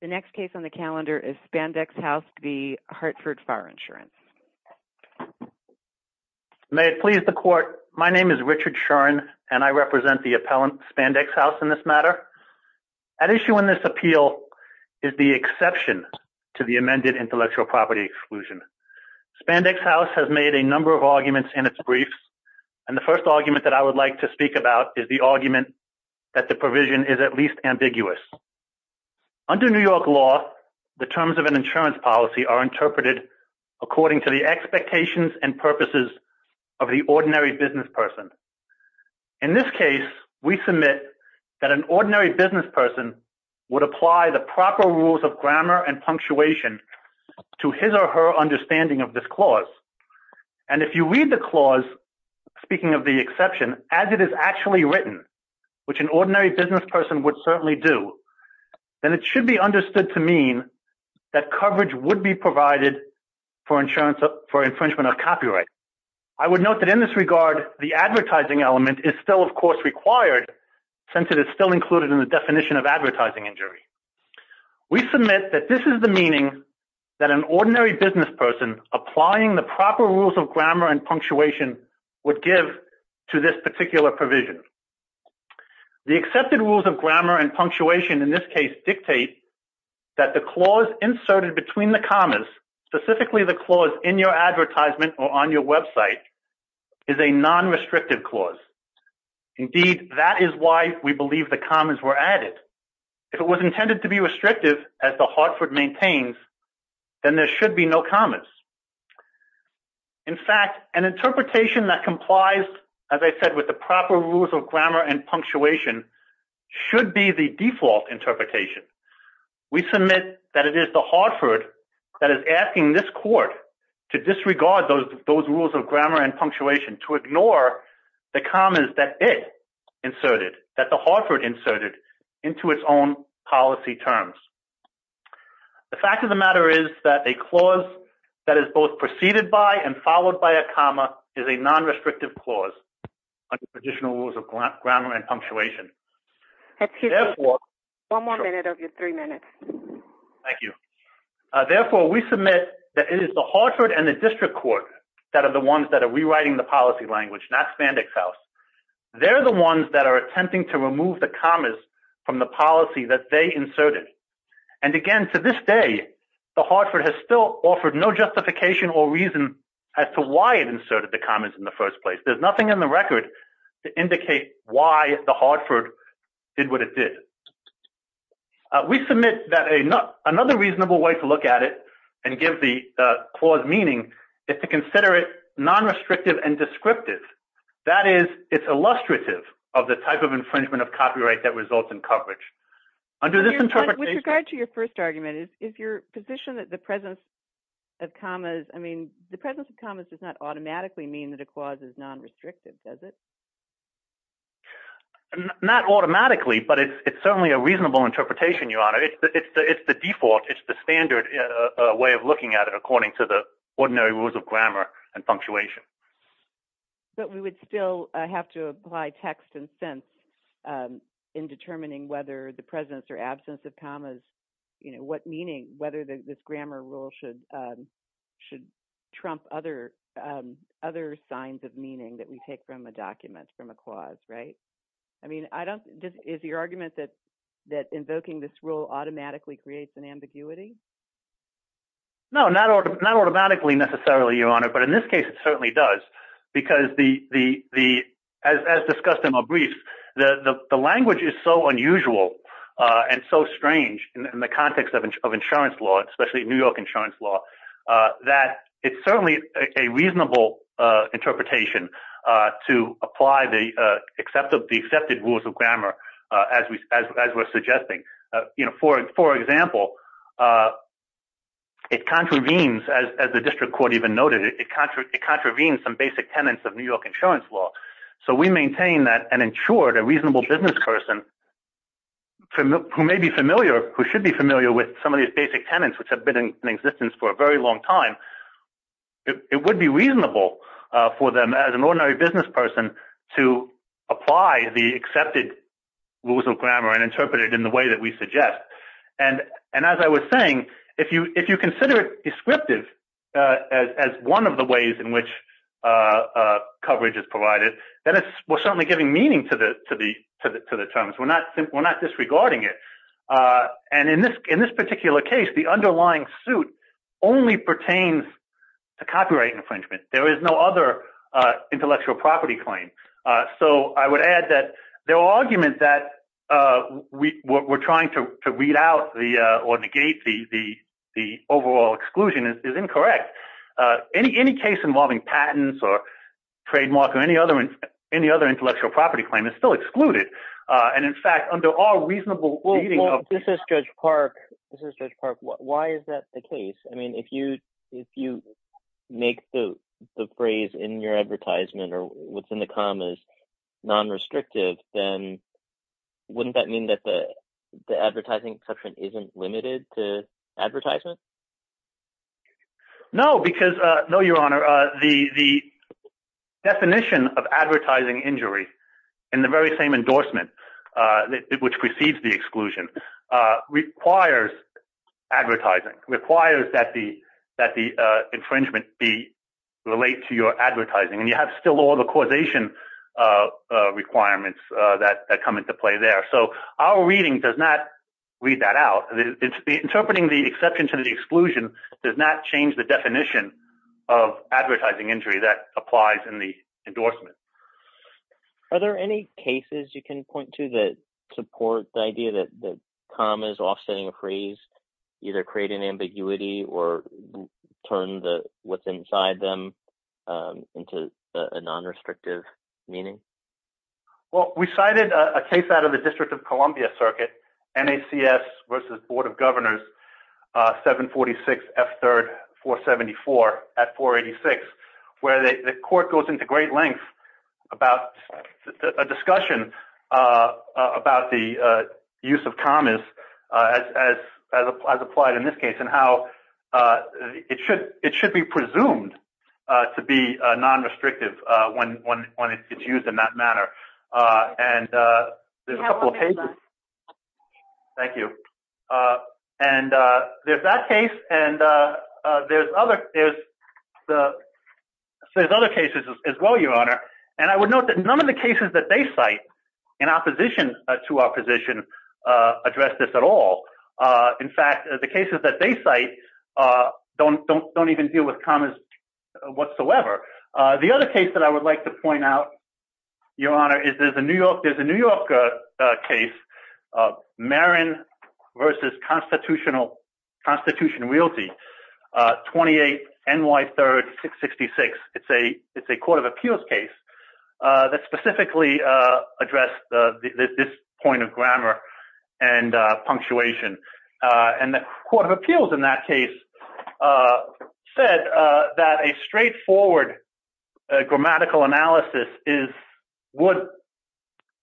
The next case on the calendar is Spandex House v. Hartford Fire Insurance. May it please the Court, my name is Richard Shuren and I represent the appellant Spandex House in this matter. At issue in this appeal is the exception to the amended intellectual property exclusion. Spandex House has made a number of arguments in its briefs, and the first argument that I would like to speak about is the argument that the provision is at least ambiguous. Under New York law, the terms of an insurance policy are interpreted according to the expectations and purposes of the ordinary business person. In this case, we submit that an ordinary business person would apply the proper rules of grammar and punctuation to his or her understanding of this clause. And if you read the clause, speaking of the exception, as it is actually written, which an ordinary business person would certainly do, then it should be understood to mean that coverage would be provided for infringement of copyright. I would note that in this regard, the advertising element is still, of course, required since it is still included in the definition of advertising injury. We submit that this is the meaning that an ordinary business person applying the proper rules of grammar and punctuation would give to this particular provision. The accepted rules of grammar and punctuation, in this case, dictate that the clause inserted between the commas, specifically the clause in your advertisement or on your website, is a non-restrictive clause. Indeed, that is why we believe the commas were added. If it was intended to be restrictive, as the Hartford maintains, then there should be no commas. In fact, an interpretation that complies, as I said, with the proper rules of grammar and punctuation should be the default interpretation. We submit that it is the Hartford that is asking this court to disregard those rules of grammar and punctuation, to ignore the commas that it inserted, that the Hartford inserted into its own policy terms. The fact of the matter is that a clause that is both preceded by and followed by a comma is a non-restrictive clause under traditional rules of grammar and punctuation. Excuse me. One more minute of your three minutes. Thank you. Therefore, we submit that it is the Hartford and the district court that are the ones that are rewriting the policy language, not Spandex House. They're the ones that are attempting to remove the commas from the policy that they inserted. And again, to this day, the Hartford has still offered no justification or reason as to why it inserted the commas in the first place. There's nothing in the record to indicate why the Hartford did what it did. We submit that another reasonable way to look at it and give the clause meaning is to consider it non-restrictive and descriptive. That is, it's illustrative of the type of infringement of copyright that results in coverage. With regard to your first argument, is your position that the presence of commas, I mean, the presence of commas does not automatically mean that a clause is non-restrictive, does it? Not automatically, but it's certainly a reasonable interpretation, Your Honor. It's the default, it's the standard way of looking at it according to the ordinary rules of grammar and punctuation. But we would still have to apply text and sense in determining whether the presence or absence of commas, what meaning, whether this grammar rule should trump other signs of meaning that we take from a document, from a clause, right? I mean, I don't, is your argument that invoking this rule automatically creates an ambiguity? No, not automatically necessarily, Your Honor, but in this case it certainly does because as discussed in my brief, the language is so unusual and so strange in the context of insurance law, especially New York insurance law, that it's certainly a reasonable interpretation to apply the accepted rules of grammar as we're suggesting. For example, it contravenes, as the district court even noted, it contravenes some basic tenants of New York insurance law. So we maintain that an insured, a reasonable business person who may be familiar, who should be familiar with some of these basic tenants, which have been in existence for a very long time, it would be reasonable for them as an ordinary business person to apply the accepted rules of grammar and interpret it in the way that we suggest. And as I was saying, if you consider it descriptive as one of the ways in which coverage is provided, then we're certainly giving meaning to the terms. We're not disregarding it. And in this particular case, the underlying suit only pertains to copyright infringement. There is no other intellectual property claim. So I would add that the argument that we're trying to weed out or negate the overall exclusion is incorrect. Any case involving patents or trademark or any other intellectual property claim is still excluded. And in fact, under all reasonable... Well, this is Judge Park. This is Judge Park. Why is that the case? I mean, if you make the phrase in your advertisement or what's in the commas non-restrictive, then wouldn't that mean that the advertising section isn't limited to advertisement? No, because... No, Your Honor. The definition of advertising injury in the very same endorsement, which precedes the exclusion, requires advertising, requires that the infringement relate to your advertising. And you have still all the causation requirements that come into play there. So our reading does not read that out. Interpreting the exception to the exclusion does not change the definition of advertising injury that applies in the endorsement. Are there any cases you can point to that support the idea that the commas offsetting a phrase either create an ambiguity or turn what's inside them into a non-restrictive meaning? Well, we cited a case out of the District of Columbia Circuit, NACS versus Board of Governors, 746 F3rd 474 at 486, where the court goes into great length about a discussion about the use of commas as applied in this case and how it should be presumed to be non-restrictive when it's that case. And there's other cases as well, Your Honor. And I would note that none of the cases that they cite in opposition to our position address this at all. In fact, the cases that they cite don't even deal with commas whatsoever. The other case that I would like to point out, Your Honor, is there's a New York case, Marin versus Constitutional Realty, 28 NY 3rd 666. It's a court of appeals case that specifically addressed this point of grammar and punctuation. And the court of appeals in that case said that a straightforward grammatical analysis would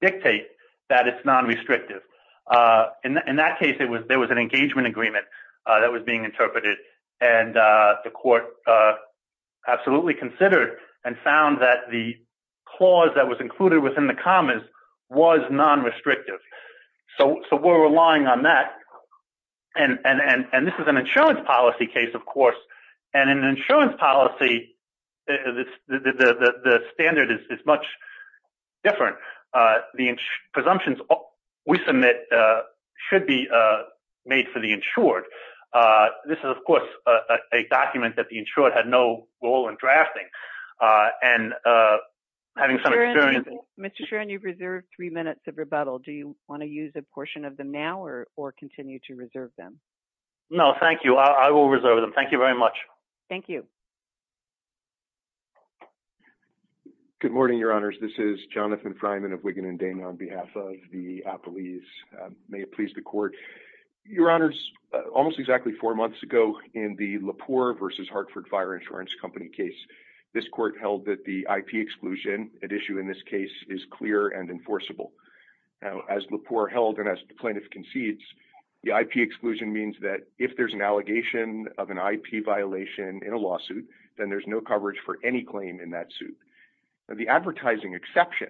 dictate that it's non-restrictive. In that case, there was an engagement agreement that was being interpreted. And the court absolutely considered and found that the clause that was included within the commas was non-restrictive. So we're relying on that. And this is an insurance policy case, of course. And in insurance policy, the standard is much different. The presumptions we submit should be made for the insured. This is, of course, a document that the insured had no role in drafting. And having some experience... Mr. Sharon, you've reserved three minutes of rebuttal. Do you want to use a portion of them now or continue to reserve them? No, thank you. I will reserve them. Thank you very much. Thank you. Good morning, Your Honors. This is Jonathan Freiman of Wigan & Dana on behalf of the appellees. May it please the court. Your Honors, almost exactly four months ago in the Lepore v. Hartford Fire Insurance Company case, this court held that the IP exclusion at issue in this case is clear and enforceable. Now, as Lepore held and as the plaintiff concedes, the IP exclusion means that if there's an allegation of an IP violation in a lawsuit, then there's no coverage for any claim in that suit. The advertising exception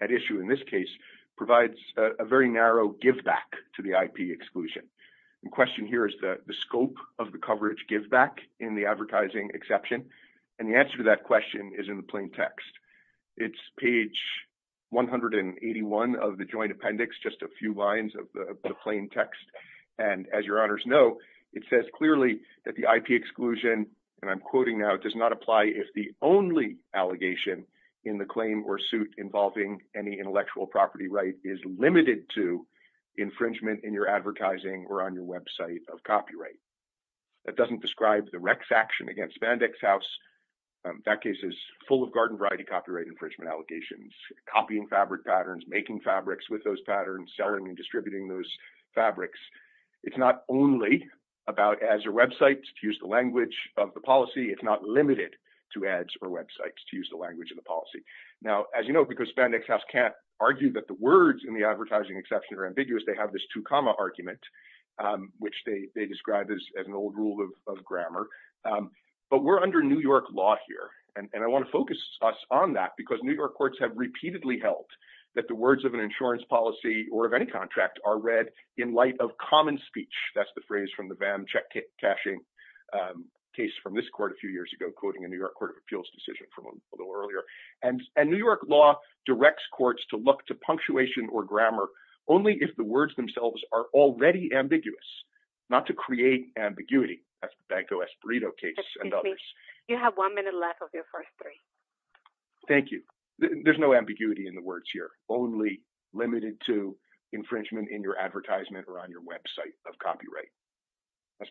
at issue in this case provides a very narrow giveback to the IP exclusion. The question here is the scope of the coverage giveback in the advertising exception. And the answer to that question is in the plain text. And as Your Honors know, it says clearly that the IP exclusion, and I'm quoting now, it does not apply if the only allegation in the claim or suit involving any intellectual property right is limited to infringement in your advertising or on your website of copyright. That doesn't describe the Rex action against Spandex House. That case is full of garden variety copyright infringement allegations, copying fabric patterns, making fabrics with those patterns, selling and distributing those fabrics. It's not only about ads or websites to use the language of the policy. It's not limited to ads or websites to use the language of the policy. Now, as you know, because Spandex House can't argue that the words in the advertising exception are ambiguous, they have this two comma argument, which they describe as an old rule of grammar. But we're under New York law here. And I want to focus us on that because New York courts have repeatedly held that the words of an insurance policy or of any contract are read in light of common speech. That's the phrase from the VAM check cashing case from this court a few years ago, quoting a New York Court of Appeals decision from a little earlier. And New York law directs courts to look to punctuation or grammar only if the words themselves are already ambiguous, not to create ambiguity. That's the Banco Espirito case and others. You have one minute left of your first three. Thank you. There's no ambiguity in the words here, only limited to infringement in your advertisement or on your website of copyright.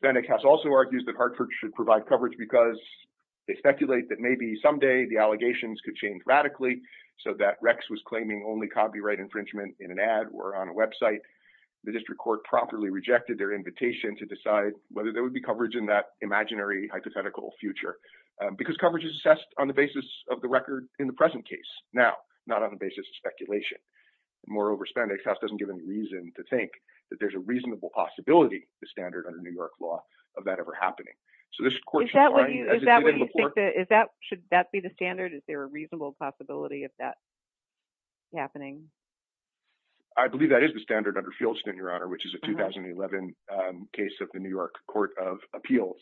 Spandex House also argues that Hartford should provide coverage because they speculate that maybe someday the allegations could change radically so that Rex was claiming only copyright infringement in an ad or on a website. The district court properly rejected their invitation to decide whether there would be of the record in the present case now, not on the basis of speculation. Moreover, Spandex House doesn't give any reason to think that there's a reasonable possibility, the standard under New York law, of that ever happening. So this court... Is that what you think? Should that be the standard? Is there a reasonable possibility of that happening? I believe that is the standard under Fieldston, Your Honor, which is a 2011 case of the New York Court of Appeals.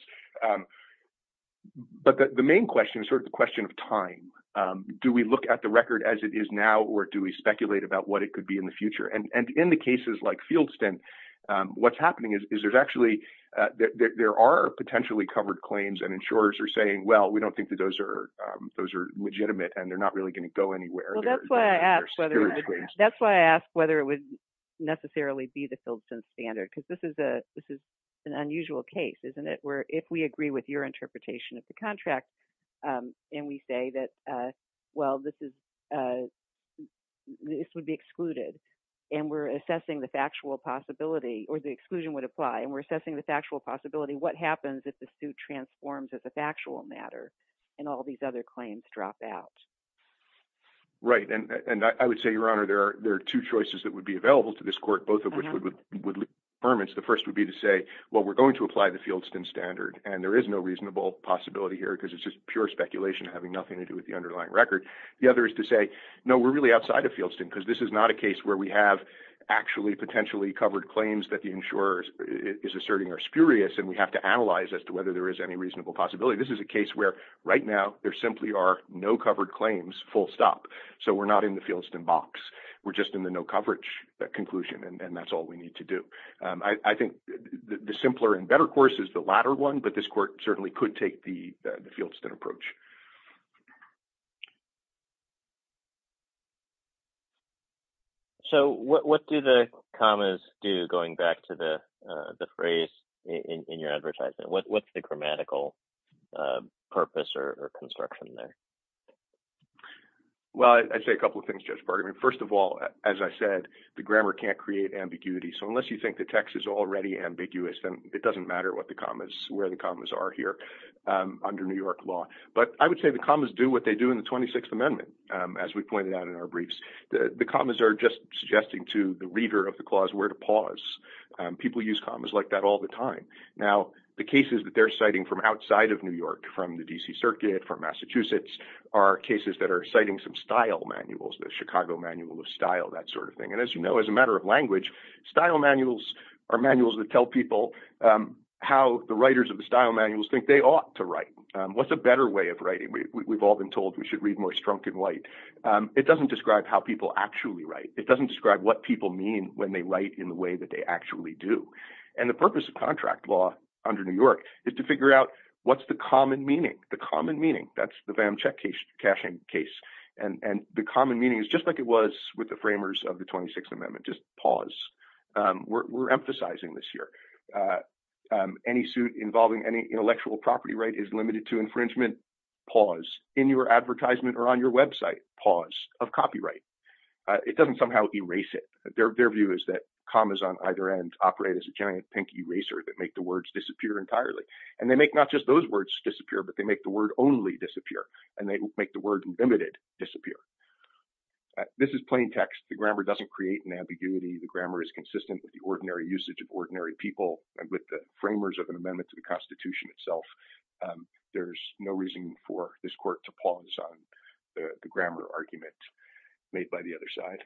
But the main question is sort of the question of time. Do we look at the record as it is now, or do we speculate about what it could be in the future? And in the cases like Fieldston, what's happening is there are potentially covered claims and insurers are saying, well, we don't think that those are legitimate and they're not really going to go anywhere. Well, that's why I ask whether it would necessarily be the Fieldston standard, because this is an unusual case, isn't it, where if we agree with your interpretation of the contract and we say that, well, this would be excluded, and we're assessing the factual possibility, or the exclusion would apply, and we're assessing the factual possibility, what happens if the suit transforms as a factual matter and all these other claims drop out? Right. And I would say, Your Honor, there are two choices that would be available to this court, both of which would leave permits. The first would be to say, well, we're going to apply the Fieldston standard, and there is no reasonable possibility here because it's just pure speculation having nothing to do with the underlying record. The other is to say, no, we're really outside of Fieldston because this is not a case where we have actually potentially covered claims that the insurer is asserting are spurious and we have to analyze as to whether there is any reasonable possibility. This is a case where right now there simply are no covered claims, full stop. So we're not in the Fieldston box. We're just in the no coverage conclusion, and that's all we need to do. I think the simpler and better course is the latter one, but this court certainly could take the Fieldston approach. So what do the commas do, going back to the phrase in your advertisement? What's the grammatical purpose or construction there? Well, I'd say a couple of things, Judge Bargmann. First of all, as I said, the grammar can't create ambiguity. So unless you think the text is already ambiguous, then it doesn't matter what the commas, where the commas are here under New York law. But I would say the commas do what they do in the 26th Amendment, as we pointed out in our briefs. The commas are just suggesting to the reader of the clause where to pause. People use commas like that all the time. Now, the cases that they're citing from outside of New York, from the DC Circuit, from Massachusetts, are cases that are citing some style manuals, the Chicago Manual of Style, that sort of thing. And as you know, as a matter of language, style manuals are manuals that tell people how the writers of the style manuals think they ought to write. What's a better way of writing? We've all been told we should read more strunk and white. It doesn't describe how people actually write. It doesn't describe what people mean when they write in the way that they actually do. And the purpose of contract law under New York is to figure out what's the common meaning. The common meaning, that's the VAM check cashing case. And the common meaning is just like it was with the framers of the 26th Amendment, just pause. We're emphasizing this here. Any suit involving any intellectual property right is limited to infringement, pause. In your advertisement or on your website, pause of copyright. It doesn't somehow erase it. Their view is that commas on either end operate as a giant pink eraser that make the words disappear entirely. And they make not just those words disappear, but they make the word only disappear. And they make the word limited disappear. This is plain text. The grammar doesn't create an ambiguity. The grammar is consistent with the ordinary usage of ordinary people and with the framers of an amendment to the Constitution itself. There's no reason for this court to pause on the grammar argument made by the other side.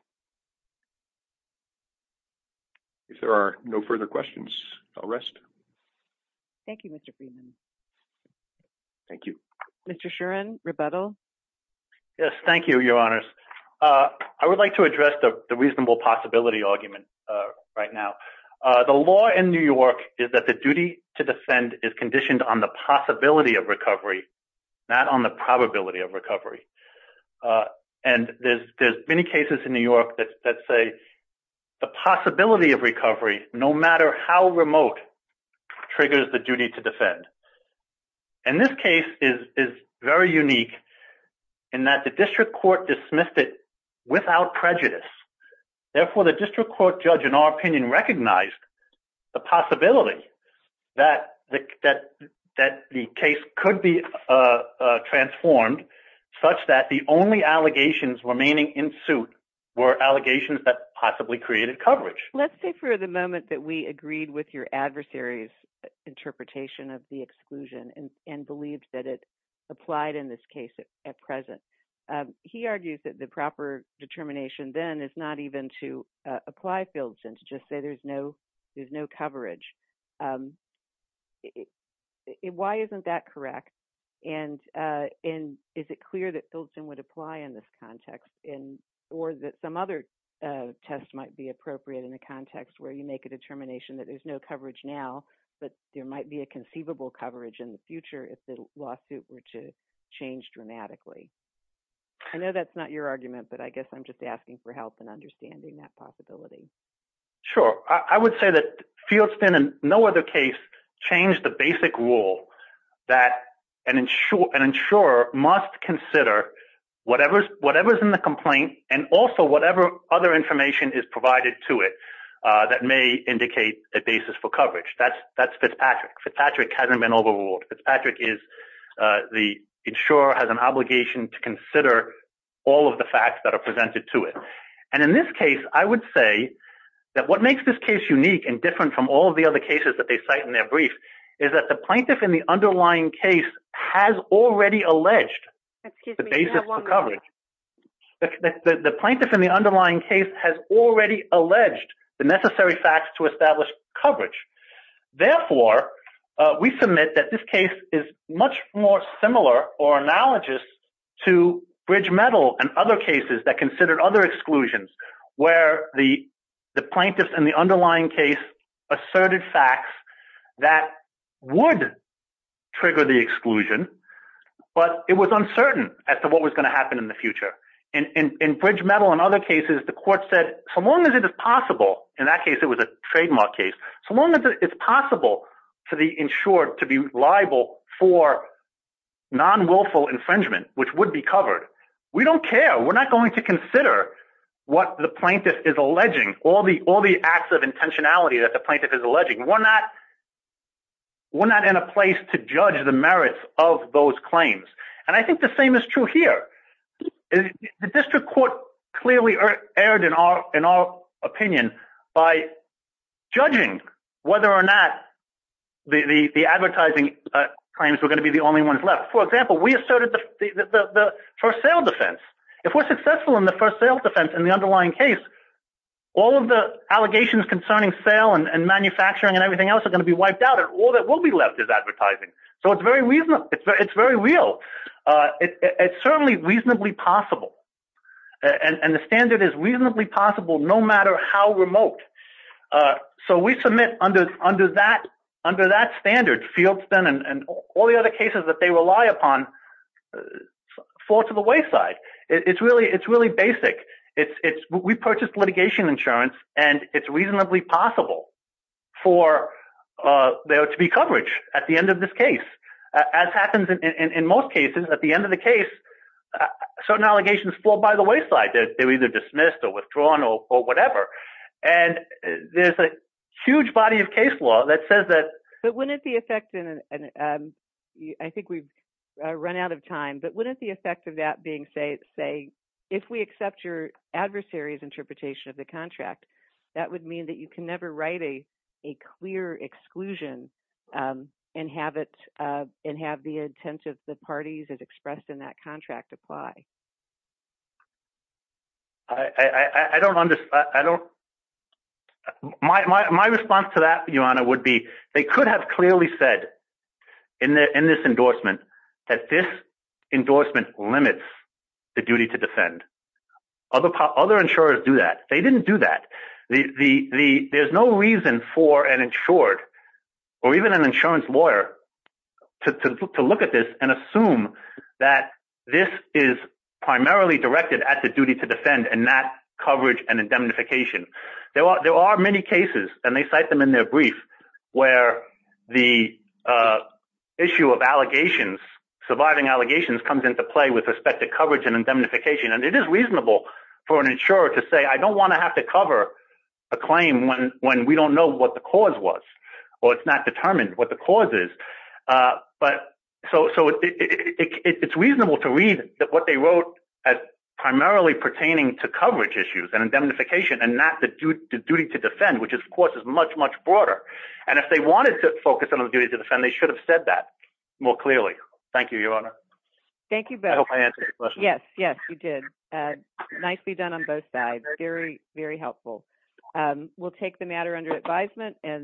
If there are no further questions, I'll rest. Thank you, Mr. Freeman. Thank you. Mr. Sheeran, rebuttal. Yes, thank you, Your Honors. I would like to address the reasonable possibility argument right now. The law in New York is that the duty to defend is conditioned on the possibility of recovery, not on the probability of recovery. And there's many cases in New York where the say the possibility of recovery, no matter how remote, triggers the duty to defend. And this case is very unique in that the district court dismissed it without prejudice. Therefore, the district court judge, in our opinion, recognized the possibility that the case could be possibly created coverage. Let's say for the moment that we agreed with your adversaries' interpretation of the exclusion and believed that it applied in this case at present. He argues that the proper determination then is not even to apply Fieldson, to just say there's no coverage. Why isn't that correct? And is it clear that Fieldson would apply in this context, or that some other test might be appropriate in a context where you make a determination that there's no coverage now, but there might be a conceivable coverage in the future if the lawsuit were to change dramatically? I know that's not your argument, but I guess I'm just asking for help in understanding that possibility. Sure. I would say that Fieldson, in no other case, changed the basic rule that an insurer must consider whatever's in the complaint and also whatever other information is provided to it that may indicate a basis for coverage. That's Fitzpatrick. Fitzpatrick hasn't been overruled. Fitzpatrick is the insurer has an obligation to consider all of the facts that are presented to it. And in this case, I would say that what makes this case unique and different from all of the other cases that they cite in their brief is that the plaintiff in the underlying case has already alleged the basis for coverage. The plaintiff in the underlying case has already alleged the necessary facts to establish coverage. Therefore, we submit that this case is much more similar or analogous to Bridge Metal and other exclusions where the plaintiff in the underlying case asserted facts that would trigger the exclusion, but it was uncertain as to what was going to happen in the future. In Bridge Metal and other cases, the court said, so long as it is possible, in that case it was a trademark case, so long as it's possible for the insured to be liable for non-willful infringement, which would be covered, we don't care. We're not going to consider what the plaintiff is alleging, all the acts of intentionality that the plaintiff is alleging. We're not in a place to judge the merits of those claims. And I think the same is true here. The district court clearly erred in our opinion by judging whether or not the advertising claims were going to be the only ones left. For example, we asserted the first sale defense. If we're successful in the first sale defense in the underlying case, all of the allegations concerning sale and manufacturing and everything else are going to be wiped out and all that will be left is advertising. So it's very real. It's certainly reasonably possible. And the standard is reasonably possible no matter how remote. So we submit under that standard, field spend and all the other cases that they rely upon fall to the wayside. It's really basic. We purchased litigation insurance and it's reasonably possible for there to be coverage at the end of this case. As happens in most cases, at the end of the case, certain allegations fall by the wayside. They're either dismissed or withdrawn or whatever. And there's a huge body of case law that says that... But wouldn't the effect... I think we've run out of time, but wouldn't the effect of that being say, if we accept your adversary's interpretation of the contract, that would mean that you can never write a clear exclusion and have the intent of the parties as expressed in that contract apply? I don't understand. My response to that, Your Honor, would be they could have clearly said in this endorsement that this endorsement limits the duty to defend. Other insurers do that. They didn't do that. There's no reason for an insured or even an insurance lawyer to look at this and assume that this is primarily directed at the duty to defend and not coverage and indemnification. There are many cases, and they cite them in their brief, where the issue of allegations, surviving allegations comes into play with respect to coverage and indemnification. And it is reasonable for an insurer to say, I don't want to have to cover a claim when we don't know what the cause was or it's not determined what the cause is. So it's reasonable to read that what they wrote as primarily pertaining to coverage issues and indemnification and not the duty to defend, which of course is much, much broader. And if they wanted to focus on the duty to defend, they should have said that more clearly. Thank you, Your Honor. Thank you both. I hope I answered your question. Yes. Yes, you did. Nicely done on both sides. Very, very helpful. We'll take the matter under advisement and then